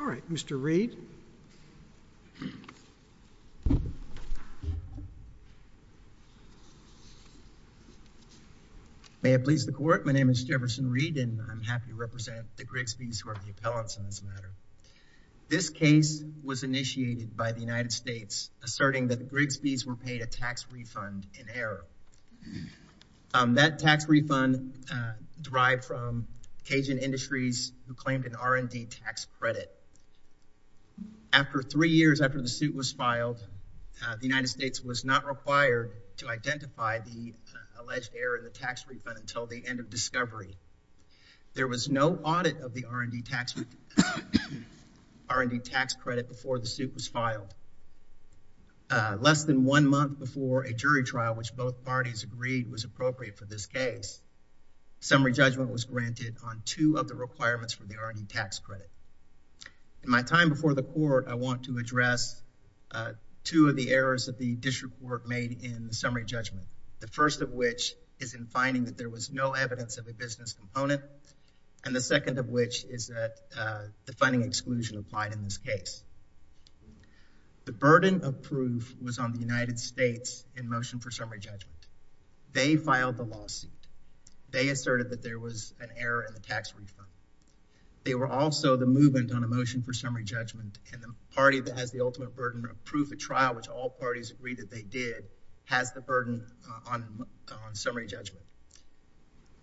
All right, Mr. Reed. May it please the court, my name is Jefferson Reed and I'm happy to represent the Grigsby's who are the appellants in this matter. This case was initiated by the United States asserting that the Grigsby's were paid a tax refund in error. That tax refund derived from Cajun Industries who claimed an R&D tax credit. After three years after the suit was filed, the United States was not required to identify the alleged error in the tax refund until the end of discovery. There was no audit of the R&D tax credit before the suit was filed. Less than one month before a jury trial which both parties agreed was appropriate for this case, summary judgment was granted on two of the requirements for the R&D tax credit. In my time before the court, I want to address two of the errors that the district court made in the summary judgment. The first of which is in finding that there was no evidence of a business component and the second of which is that the funding exclusion applied in this case. The burden of proof was on the United States in motion for summary judgment. They filed the lawsuit. They asserted that there was an error in the tax refund. They were also the movement on a motion for summary judgment and the party that has the ultimate burden of proof at trial, which all parties agreed that they did, has the burden on summary judgment.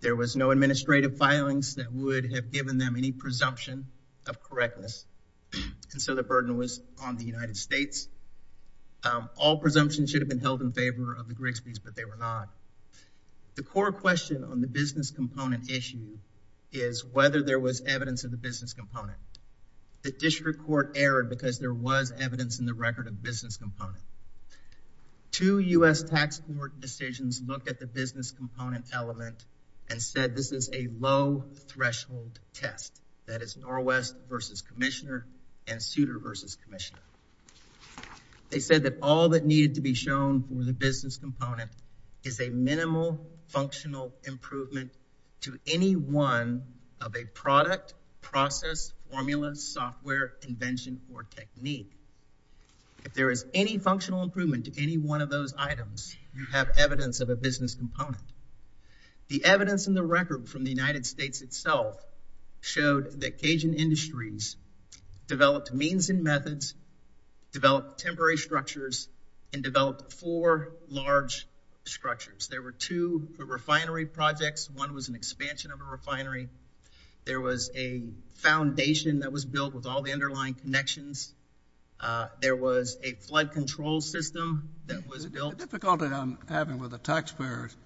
There was no administrative filings that would have done this and so the burden was on the United States. All presumptions should have been held in favor of the Grigsby's but they were not. The core question on the business component issue is whether there was evidence of the business component. The district court erred because there was evidence in the record of business component. Two U.S. tax court decisions looked at the business component element and said this is a low threshold test. That is Norwest versus Commissioner and Souter versus Commissioner. They said that all that needed to be shown for the business component is a minimal functional improvement to any one of a product, process, formula, software, invention, or technique. If there is any functional improvement to any one of those items, you have evidence of a business component. The industry developed means and methods, developed temporary structures, and developed four large structures. There were two refinery projects. One was an expansion of a refinery. There was a foundation that was built with all the underlying connections. There was a flood control system that was built. The difficulty I'm having with the taxpayers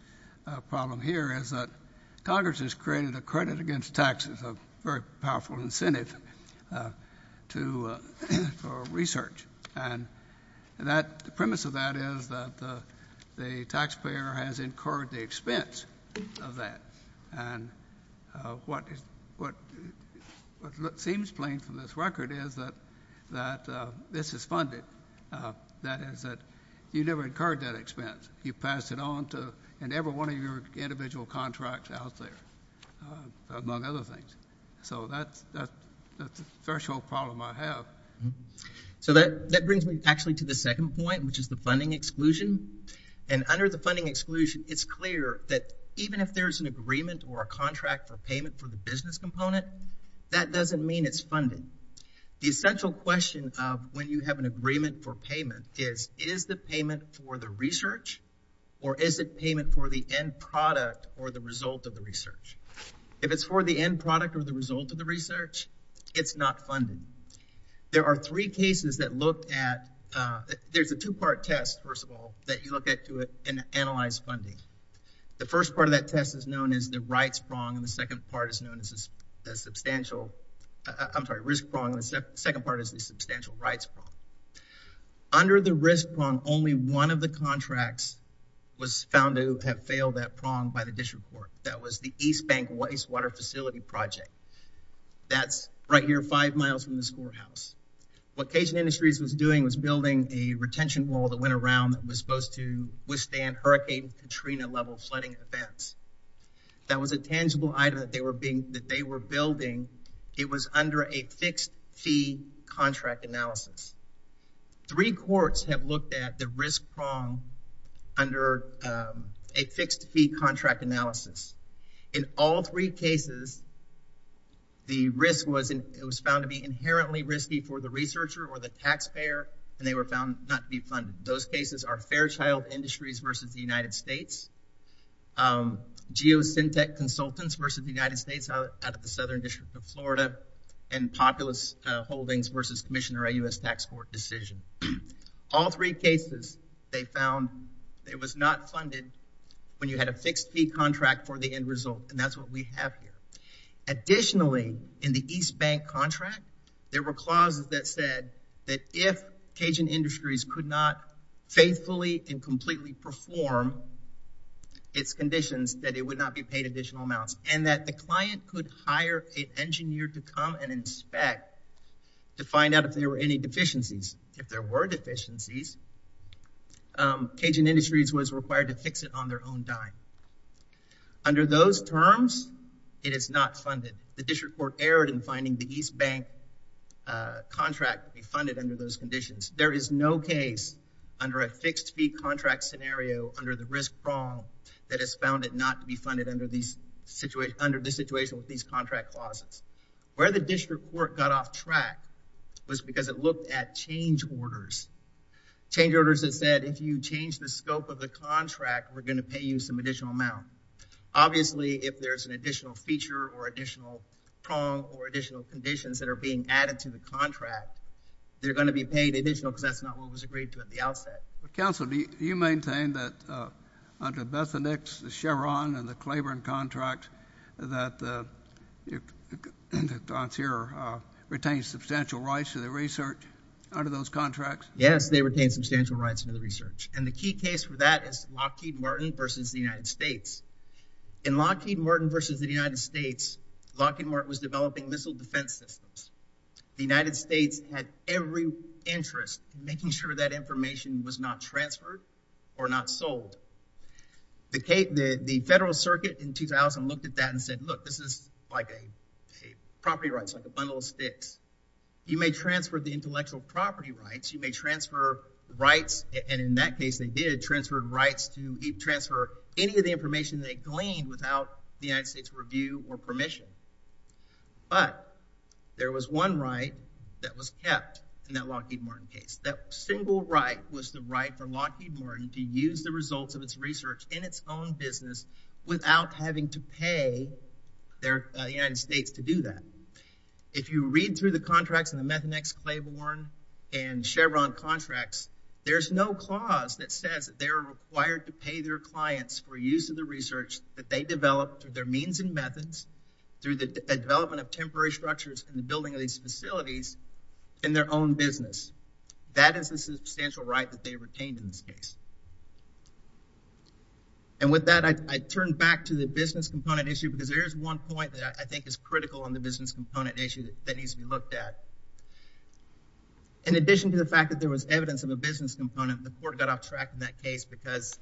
problem here is that Congress has created a credit against taxes, a very powerful incentive for research. The premise of that is that the taxpayer has incurred the expense of that. What seems plain from this record is that this is funded. That is that you never incurred that expense. You passed it on to everyone of your individual contracts out there, among other things. That is the threshold problem I have. That brings me to the second point, which is the funding exclusion. Under the funding exclusion, it is clear that even if there is an agreement or a contract for payment for the business component, that doesn't mean it is funding. The essential question when you have an for the research or is it payment for the end product or the result of the research? If it's for the end product or the result of the research, it's not funding. There are three cases that look at, there's a two-part test, first of all, that you look at to analyze funding. The first part of that test is known as the rights prong and the second part is known as substantial, I'm sorry, risk prong. The second part is the substantial rights prong. Under the risk prong, only one of the contracts was found to have failed that prong by the district court. That was the East Bank Wastewater Facility Project. That's right here five miles from this courthouse. What Cajun Industries was doing was building a retention wall that went around that was supposed to withstand hurricane Katrina level flooding events. That was a tangible item that they were building. It was under a fixed-fee contract analysis. Three courts have looked at the risk prong under a fixed-fee contract analysis. In all three cases, the risk was found to be inherently risky for the researcher or the taxpayer, and they were found not to be funded. Those cases are Fairchild Industries versus the United States, Geosyntec Consultants versus the United States out of the Southern District of Florida, and Populus Holdings versus Commissioner of the U.S. Tax Court decision. All three cases, they found it was not funded when you had a fixed-fee contract for the end result, and that's what we have here. Additionally, in the East Bank contract, there were clauses that said that if Cajun Industries could not faithfully and completely perform its conditions, that it would not be paid additional amounts, and that the client could hire an engineer to come and inspect to find out if there were any deficiencies. If there were deficiencies, Cajun Industries was required to fix it on their own dime. Under those terms, it is not funded. The District Court erred in finding the East Bank contract to be funded under those conditions. There is no case under a fixed-fee contract scenario under the risk problem that has found it not to be funded under the situation with these contract clauses. Where the District Court got off track was because it looked at change orders. Change orders that said, if you change the scope of the contract, we're going to pay you some additional amount. Obviously, if there's an additional prong or additional conditions that are being added to the contract, they're going to be paid additional because that's not what was agreed to at the outset. Counsel, do you maintain that, under Bethanyx, the Cheron, and the Claiborne contract, that the concierge retained substantial rights to the research under those contracts? Yes, they retained substantial rights to the research, and the key case for that is Lockheed versus the United States. Lockheed Martin was developing missile defense systems. The United States had every interest in making sure that information was not transferred or not sold. The Federal Circuit in 2000 looked at that and said, look, this is like a property rights, like a bundle of sticks. You may transfer the intellectual property rights. You may transfer rights, and in that case, they did transfer rights to transfer any of the information they gleaned without the United States' review or permission, but there was one right that was kept in that Lockheed Martin case. That single right was the right for Lockheed Martin to use the results of its research in its own business without having to pay the United States to do that. If you read through the contracts in the Bethanyx, Claiborne, and Cheron contracts, there's no clause that says that they are required to pay their clients for use of the research that they developed through their means and methods, through the development of temporary structures in the building of these facilities in their own business. That is a substantial right that they retained in this case, and with that, I turn back to the business component issue because there's one point that I think is critical on the business component issue that needs to be looked at. In addition to the fact that there was evidence of a business component, the court got off track in that case because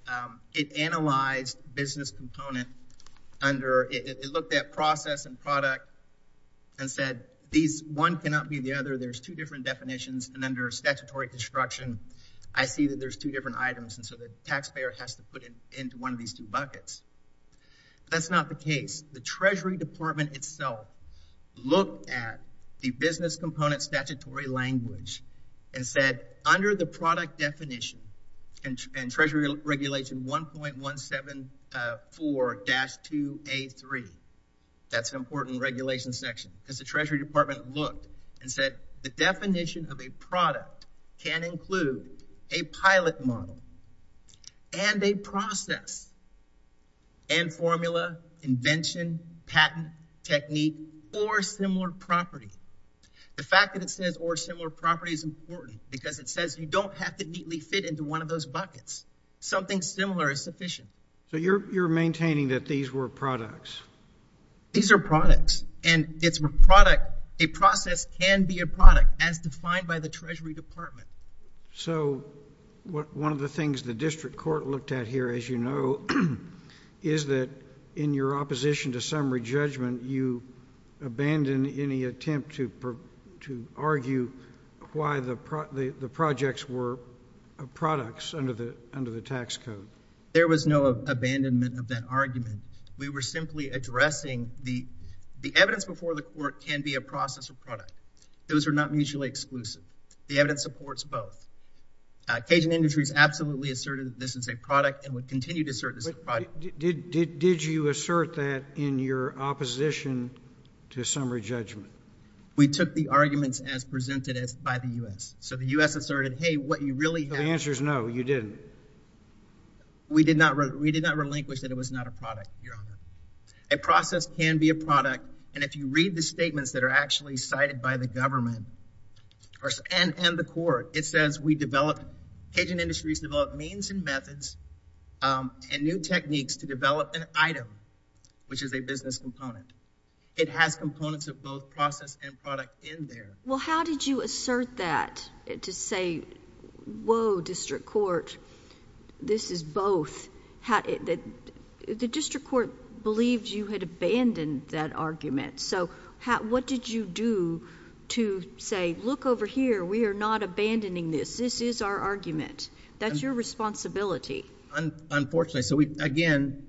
it analyzed business component under, it looked at process and product and said these one cannot be the other. There's two different definitions, and under statutory construction, I see that there's two different items, and so the taxpayer has to put it into one of these two buckets. That's not the case. The Treasury Department itself looked at the business component statutory language and said under the product definition and Treasury Regulation 1.174-2A3, that's an important regulation section, as the Treasury Department looked and said the definition of a product can include a pilot model and a process and formula, invention, patent, technique, or similar property. The fact that it says or similar property is important because it says you don't have to neatly fit into one of those buckets. Something similar is sufficient. So you're maintaining that these were products? These are products, and a process can be a product as defined by the Treasury Department. So one of the things the district court looked at here, as you know, is that in your opposition to summary judgment, you abandoned any attempt to argue why the projects were products under the tax code. There was no abandonment of that argument. We were simply addressing the evidence before the court can be a process or product. Those are not mutually exclusive. The evidence supports both. Cajun Industries absolutely asserted that this is a product and would continue to assert this is a product. Did you assert that in your opposition to summary judgment? We took the arguments as presented by the U.S. So the U.S. asserted, hey, what you really have— The answer is no, you didn't. We did not relinquish that it was not a product, Your Honor. A process can be a product, and if you read the statements that are actually cited by the government or—and the court, it says we developed—Cajun Industries developed means and methods and new techniques to develop an item, which is a business component. It has components of both process and product in there. Well, how did you assert that to say, whoa, district court, this is both? The district court believed you had abandoned that argument. So what did you do to say, look over here, we are not abandoning this. This is our argument. That's your responsibility. Unfortunately, so again,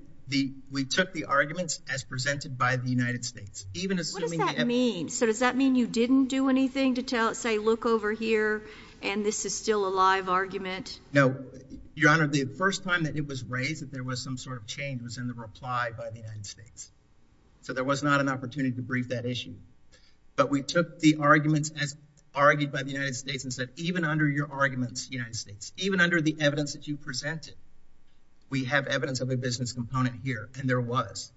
we took the arguments as presented by the United States. Even assuming— What does that mean? So does that mean you didn't do anything to say, look over here, and this is still a live argument? No. Your Honor, the first time that it was raised that there was some sort of change was in the reply by the United States. So there was not an opportunity to brief that issue, but we took the arguments as argued by the United States and said, even under your arguments, United States, even under the evidence that you presented, we have evidence of a business component here, and there was.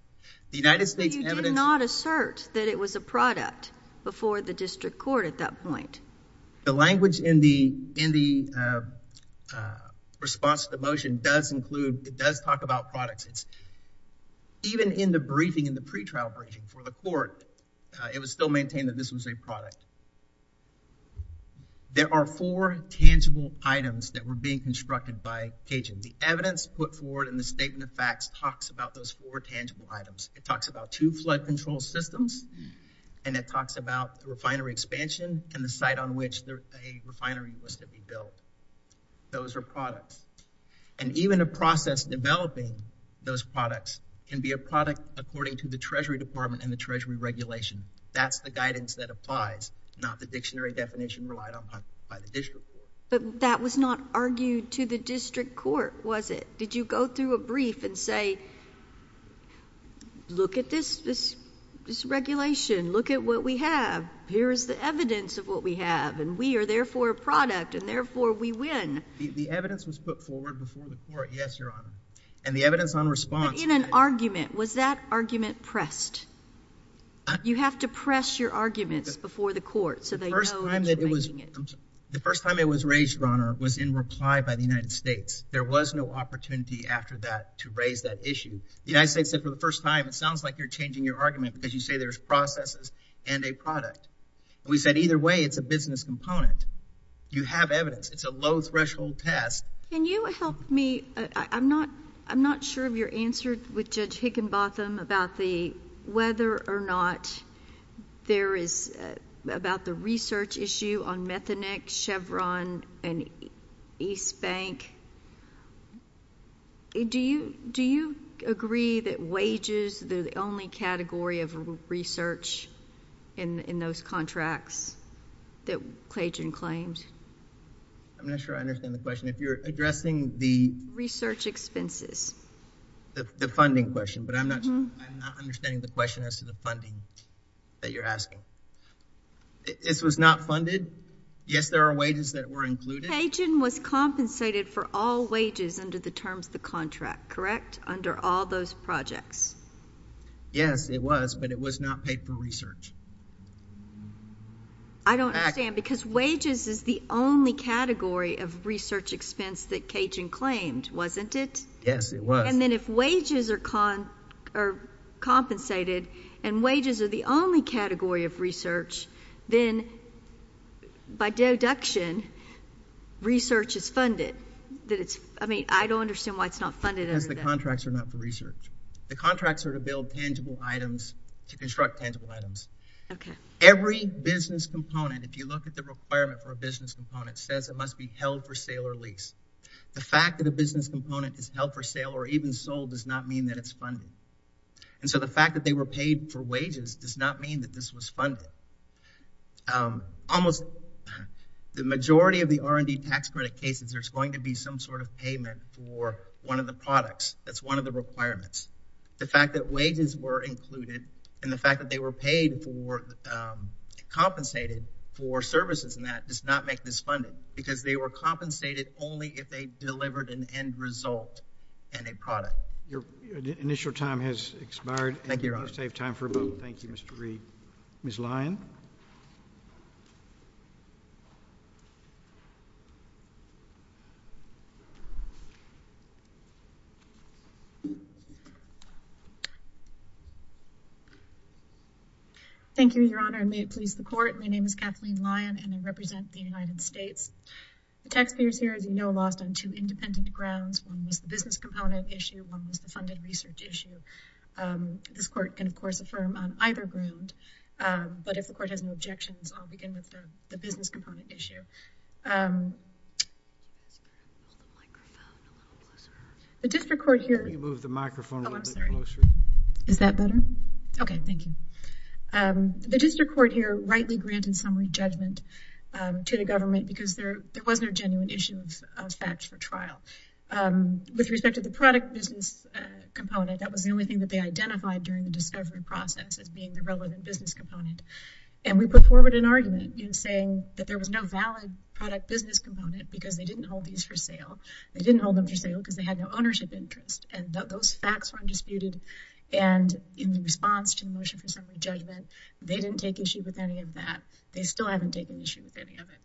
The United States evidence— But you did not assert that it was a product before the district court at that point. The language in the response to the motion does include—it does talk about products. It's—even in the briefing, in the court, it was still maintained that this was a product. There are four tangible items that were being constructed by Cajun. The evidence put forward in the statement of facts talks about those four tangible items. It talks about two flood control systems, and it talks about the refinery expansion and the site on which a refinery was to be built. Those are products. And even a process developing those products can be a product, according to the Treasury Department and the Treasury regulation. That's the guidance that applies, not the dictionary definition relied upon by the district court. But that was not argued to the district court, was it? Did you go through a brief and say, look at this regulation. Look at what we have. Here is the evidence of what we have, and we are therefore a product, and therefore we win. The evidence was put forward before the court, yes, Your Honor. And the evidence on response— Was that argument pressed? You have to press your arguments before the court so they know— The first time it was raised, Your Honor, was in reply by the United States. There was no opportunity after that to raise that issue. The United States said for the first time, it sounds like you're changing your argument because you say there's processes and a product. We said either way, it's a business component. You have evidence. It's a low-threshold test. Can you help me? I'm not sure of your answer with Judge Higginbotham about whether or not there is—about the research issue on Methonex, Chevron, and East Bank. Do you agree that wages, they're the only category of research in those contracts that Clayton claims? I'm not sure I understand the question. If you're addressing the— Research expenses. The funding question, but I'm not sure—I'm not understanding the question as to the funding that you're asking. This was not funded? Yes, there are wages that were included? Pagin was compensated for all wages under the terms of the contract, correct? Under all those projects. Yes, it was, but it was not paid for research. I don't understand, because wages is the only category of research expense that Pagin claimed, wasn't it? Yes, it was. And then if wages are compensated and wages are the only category of research, then by deduction, research is funded. I mean, I don't understand why it's not funded under that. Because the contracts are not for research. The contracts are to build tangible items, to construct tangible items. Okay. Every business component, if you look at the requirement for a business component, says it must be held for sale or lease. The fact that a business component is held for sale or even sold does not mean that it's funded. And so the fact that they were paid for wages does not mean that this was funded. Almost the majority of the R&D tax credit cases, there's going to be some sort of payment for one of the products. That's one of the requirements. The fact that wages were included and the fact that they were paid for, compensated for services in that, does not make this funded. Because they were compensated only if they delivered an end result and a product. Your initial time has expired. Thank you, Your Honor. You must have time for a vote. Thank you, Mr. Reed. Ms. Lyon. Thank you, Your Honor, and may it please the Court. My name is Kathleen Lyon and I represent the United States. The taxpayers here, as you know, lost on two independent grounds. One was the business component issue. One was the funded research issue. This Court can, of course, affirm on either ground. But if the Court has no objections, I'll begin with the business component issue. The district court here rightly granted summary judgment to the government because there wasn't a genuine issue of facts for trial. With respect to the product business component, that was the only thing that they identified during the discovery process as being the relevant business component. We put forward an argument in saying that there was no valid product business component because they didn't hold these for sale. They didn't hold them for sale because they had no ownership interest. Those facts were undisputed. In response to the motion for summary judgment, they didn't take issue with any of that. They still haven't taken issue with any of it.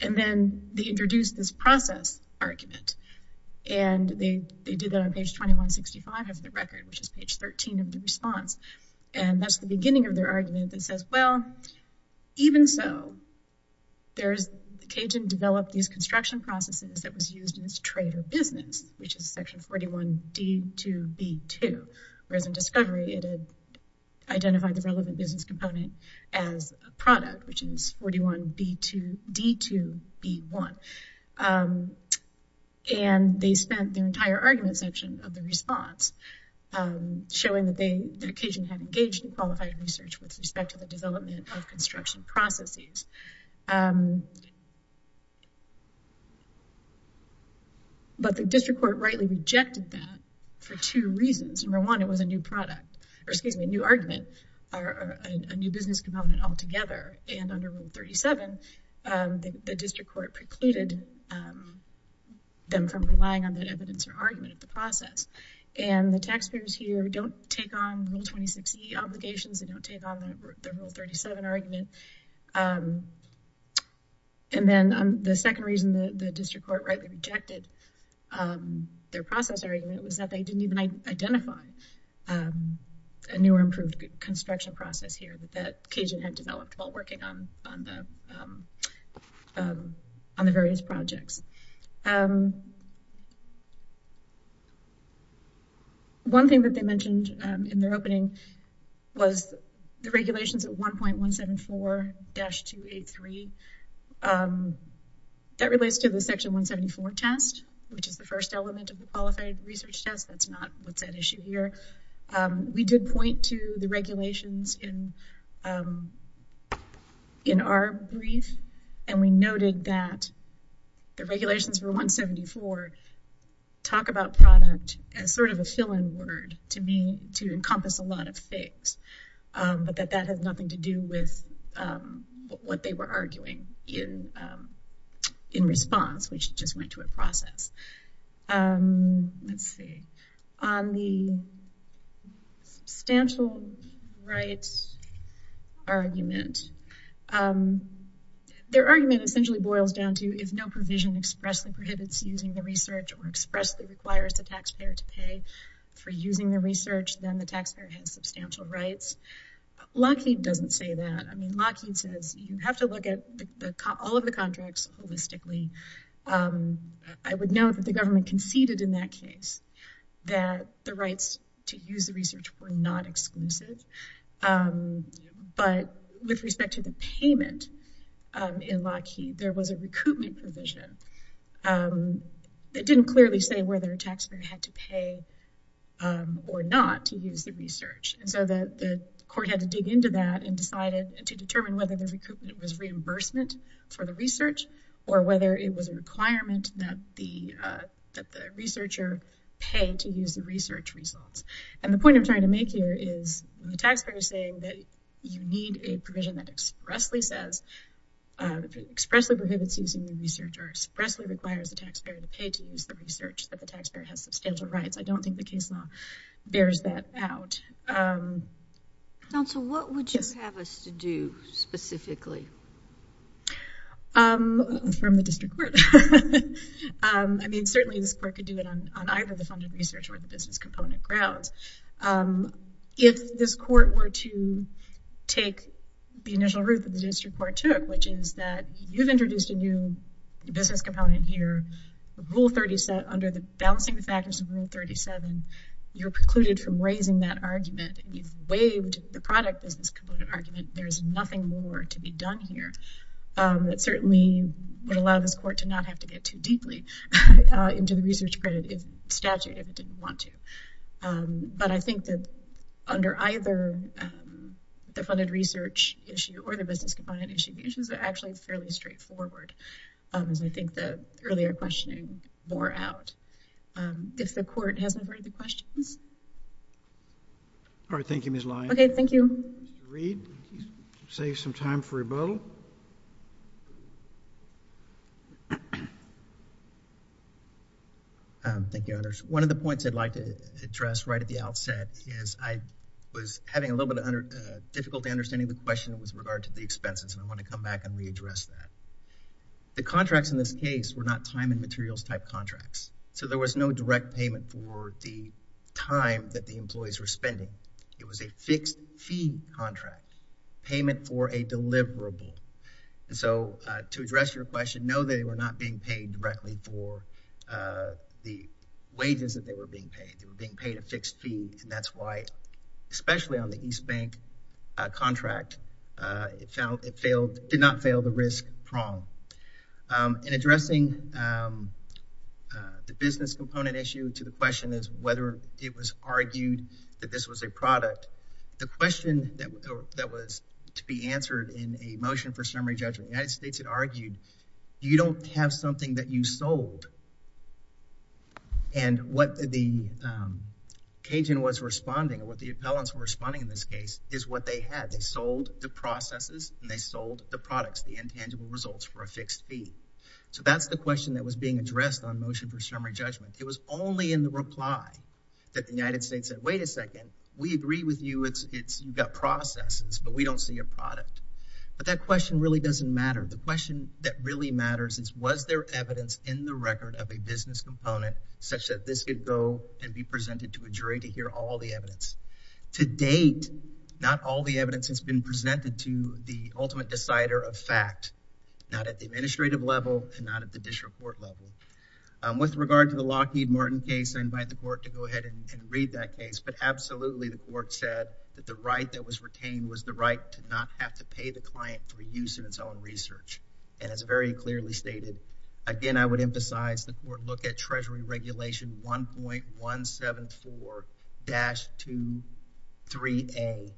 Then they introduced this process argument. They did that on page 2165 of the record, which is page 13 of the response. That's the beginning of their argument that says, well, even so, the Cajun developed these construction processes that was used in this trade or business, which is section 41D2B2. Whereas in discovery, it had identified the relevant business component as a product, which is 41D2B1. They spent their entire argument section of the response showing that the Cajun had engaged in qualified research with respect to the development of construction processes. The district court rightly rejected that for two reasons. Number one, it was a new product or excuse me, a new argument or a new business component altogether. Under rule 37, the district court precluded them from relying on that evidence or argument of the process. The taxpayers here don't take on rule 26E obligations. They don't take on the rule 37 argument. Then the second reason that the district court rightly rejected their process argument was they didn't even identify a new or improved construction process here that Cajun had developed while working on the various projects. One thing that they mentioned in their opening was the regulations at 1.174-283. That relates to the section 174 test, which is the first element of a qualified research test. That's not what's at issue here. We did point to the regulations in our brief and we noted that the regulations for 174 talk about product as sort of a fill-in word to encompass a lot of things, but that that has nothing to do with what they were arguing in response, which just went to a process. Let's see. On the substantial rights argument, their argument essentially boils down to if no provision expressly prohibits using the research or expressly requires the taxpayer to pay for using the research, then the taxpayer has substantial rights. Lockheed doesn't say that. Lockheed says you have to look at all of the contracts holistically. I would note that the government conceded in that case that the rights to use the research were not exclusive, but with respect to the payment in Lockheed, there was a recoupment provision that didn't clearly say whether a taxpayer had to pay or not to use the research. The court had to dig into that and decided to determine whether the recoupment was reimbursement for the research or whether it was a requirement that the researcher pay to use the research results. The point I'm trying to make here is the taxpayer is saying that you need a provision that expressly prohibits using the research or expressly requires the taxpayer to pay to use the research that the taxpayer has substantial rights. I don't think the case law bears that out. Counsel, what would you have us to do specifically? From the district court. I mean, certainly this court could do it on either the funded research or the business component grounds. If this court were to take the initial route that the district court took, which is that you've introduced a new business component here, under the balancing factors of rule 37, you're precluded from raising that argument and you've waived the product business component argument. There's nothing more to be done here that certainly would allow this court to not have to get too deeply into the research credit statute if it didn't want to. But I think that under either the funded research issue or the business component issue, the issues are actually fairly straightforward, as I think the earlier questioning bore out. If the court hasn't heard the questions. All right. Thank you, Ms. Lyon. Okay. Thank you. Reed, save some time for rebuttal. Thank you, Your Honors. One of the points I'd like to address right at the outset is I was having a little bit of difficulty understanding the question with regard to the expenses, and I want to come back and readdress that. The contracts in this case were not time and contracts. So there was no direct payment for the time that the employees were spending. It was a fixed fee contract, payment for a deliverable. And so to address your question, no, they were not being paid directly for the wages that they were being paid. They were being paid a fixed fee, and that's why, especially on the East Bank contract, it did not fail the risk prong. In addressing the business component issue to the question as whether it was argued that this was a product, the question that was to be answered in a motion for summary judgment, the United States had argued, you don't have something that you sold. And what the Cajun was responding, what the appellants were responding in this case, is what they had. They sold the processes and they sold the products, the intangible results for a fixed fee. So that's the question that was being addressed on motion for summary judgment. It was only in the reply that the United States said, wait a second, we agree with you. You've got processes, but we don't see a product. But that question really doesn't matter. The question that really matters is was there evidence in the record of a business component such that this could go and be presented to a jury to hear all the evidence? To date, not all the evidence has been presented to the ultimate decider of fact, not at the administrative level and not at the district court level. With regard to the Lockheed Martin case, I invite the court to go ahead and read that case. But absolutely, the court said that the right that was retained was the right to not have to pay the client for use in its own research. And it's very clearly stated. Again, I would emphasize the court look at Treasury Regulation 1.174-23A.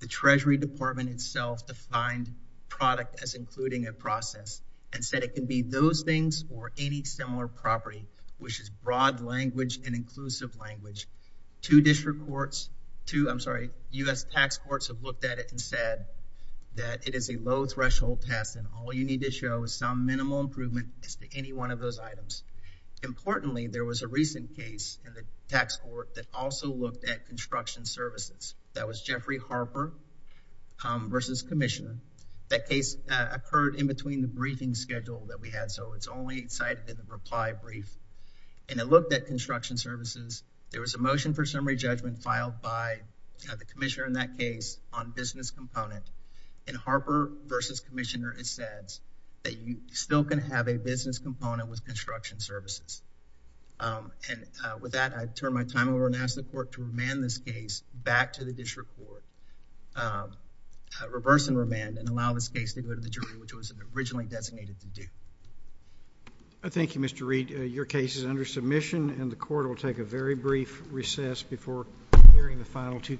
The Treasury Department itself defined product as including a process and said it can be those things or any similar property, which is broad language and inclusive language. Two district courts, two, I'm sorry, U.S. tax courts have looked at it and said that it is a low threshold test and all you need to show is minimal improvement as to any one of those items. Importantly, there was a recent case in the tax court that also looked at construction services. That was Jeffrey Harper versus Commissioner. That case occurred in between the briefing schedule that we had, so it's only cited in the reply brief and it looked at construction services. There was a motion for summary judgment filed by the commissioner in that case on business component and Harper versus Commissioner has said that you still can have a business component with construction services. And with that, I turn my time over and ask the court to remand this case back to the district court, reverse and remand and allow this case to go to the jury, which it was originally designated to do. Thank you, Mr. Reed. Your case is under submission and the court will take a very brief recess before hearing the final two.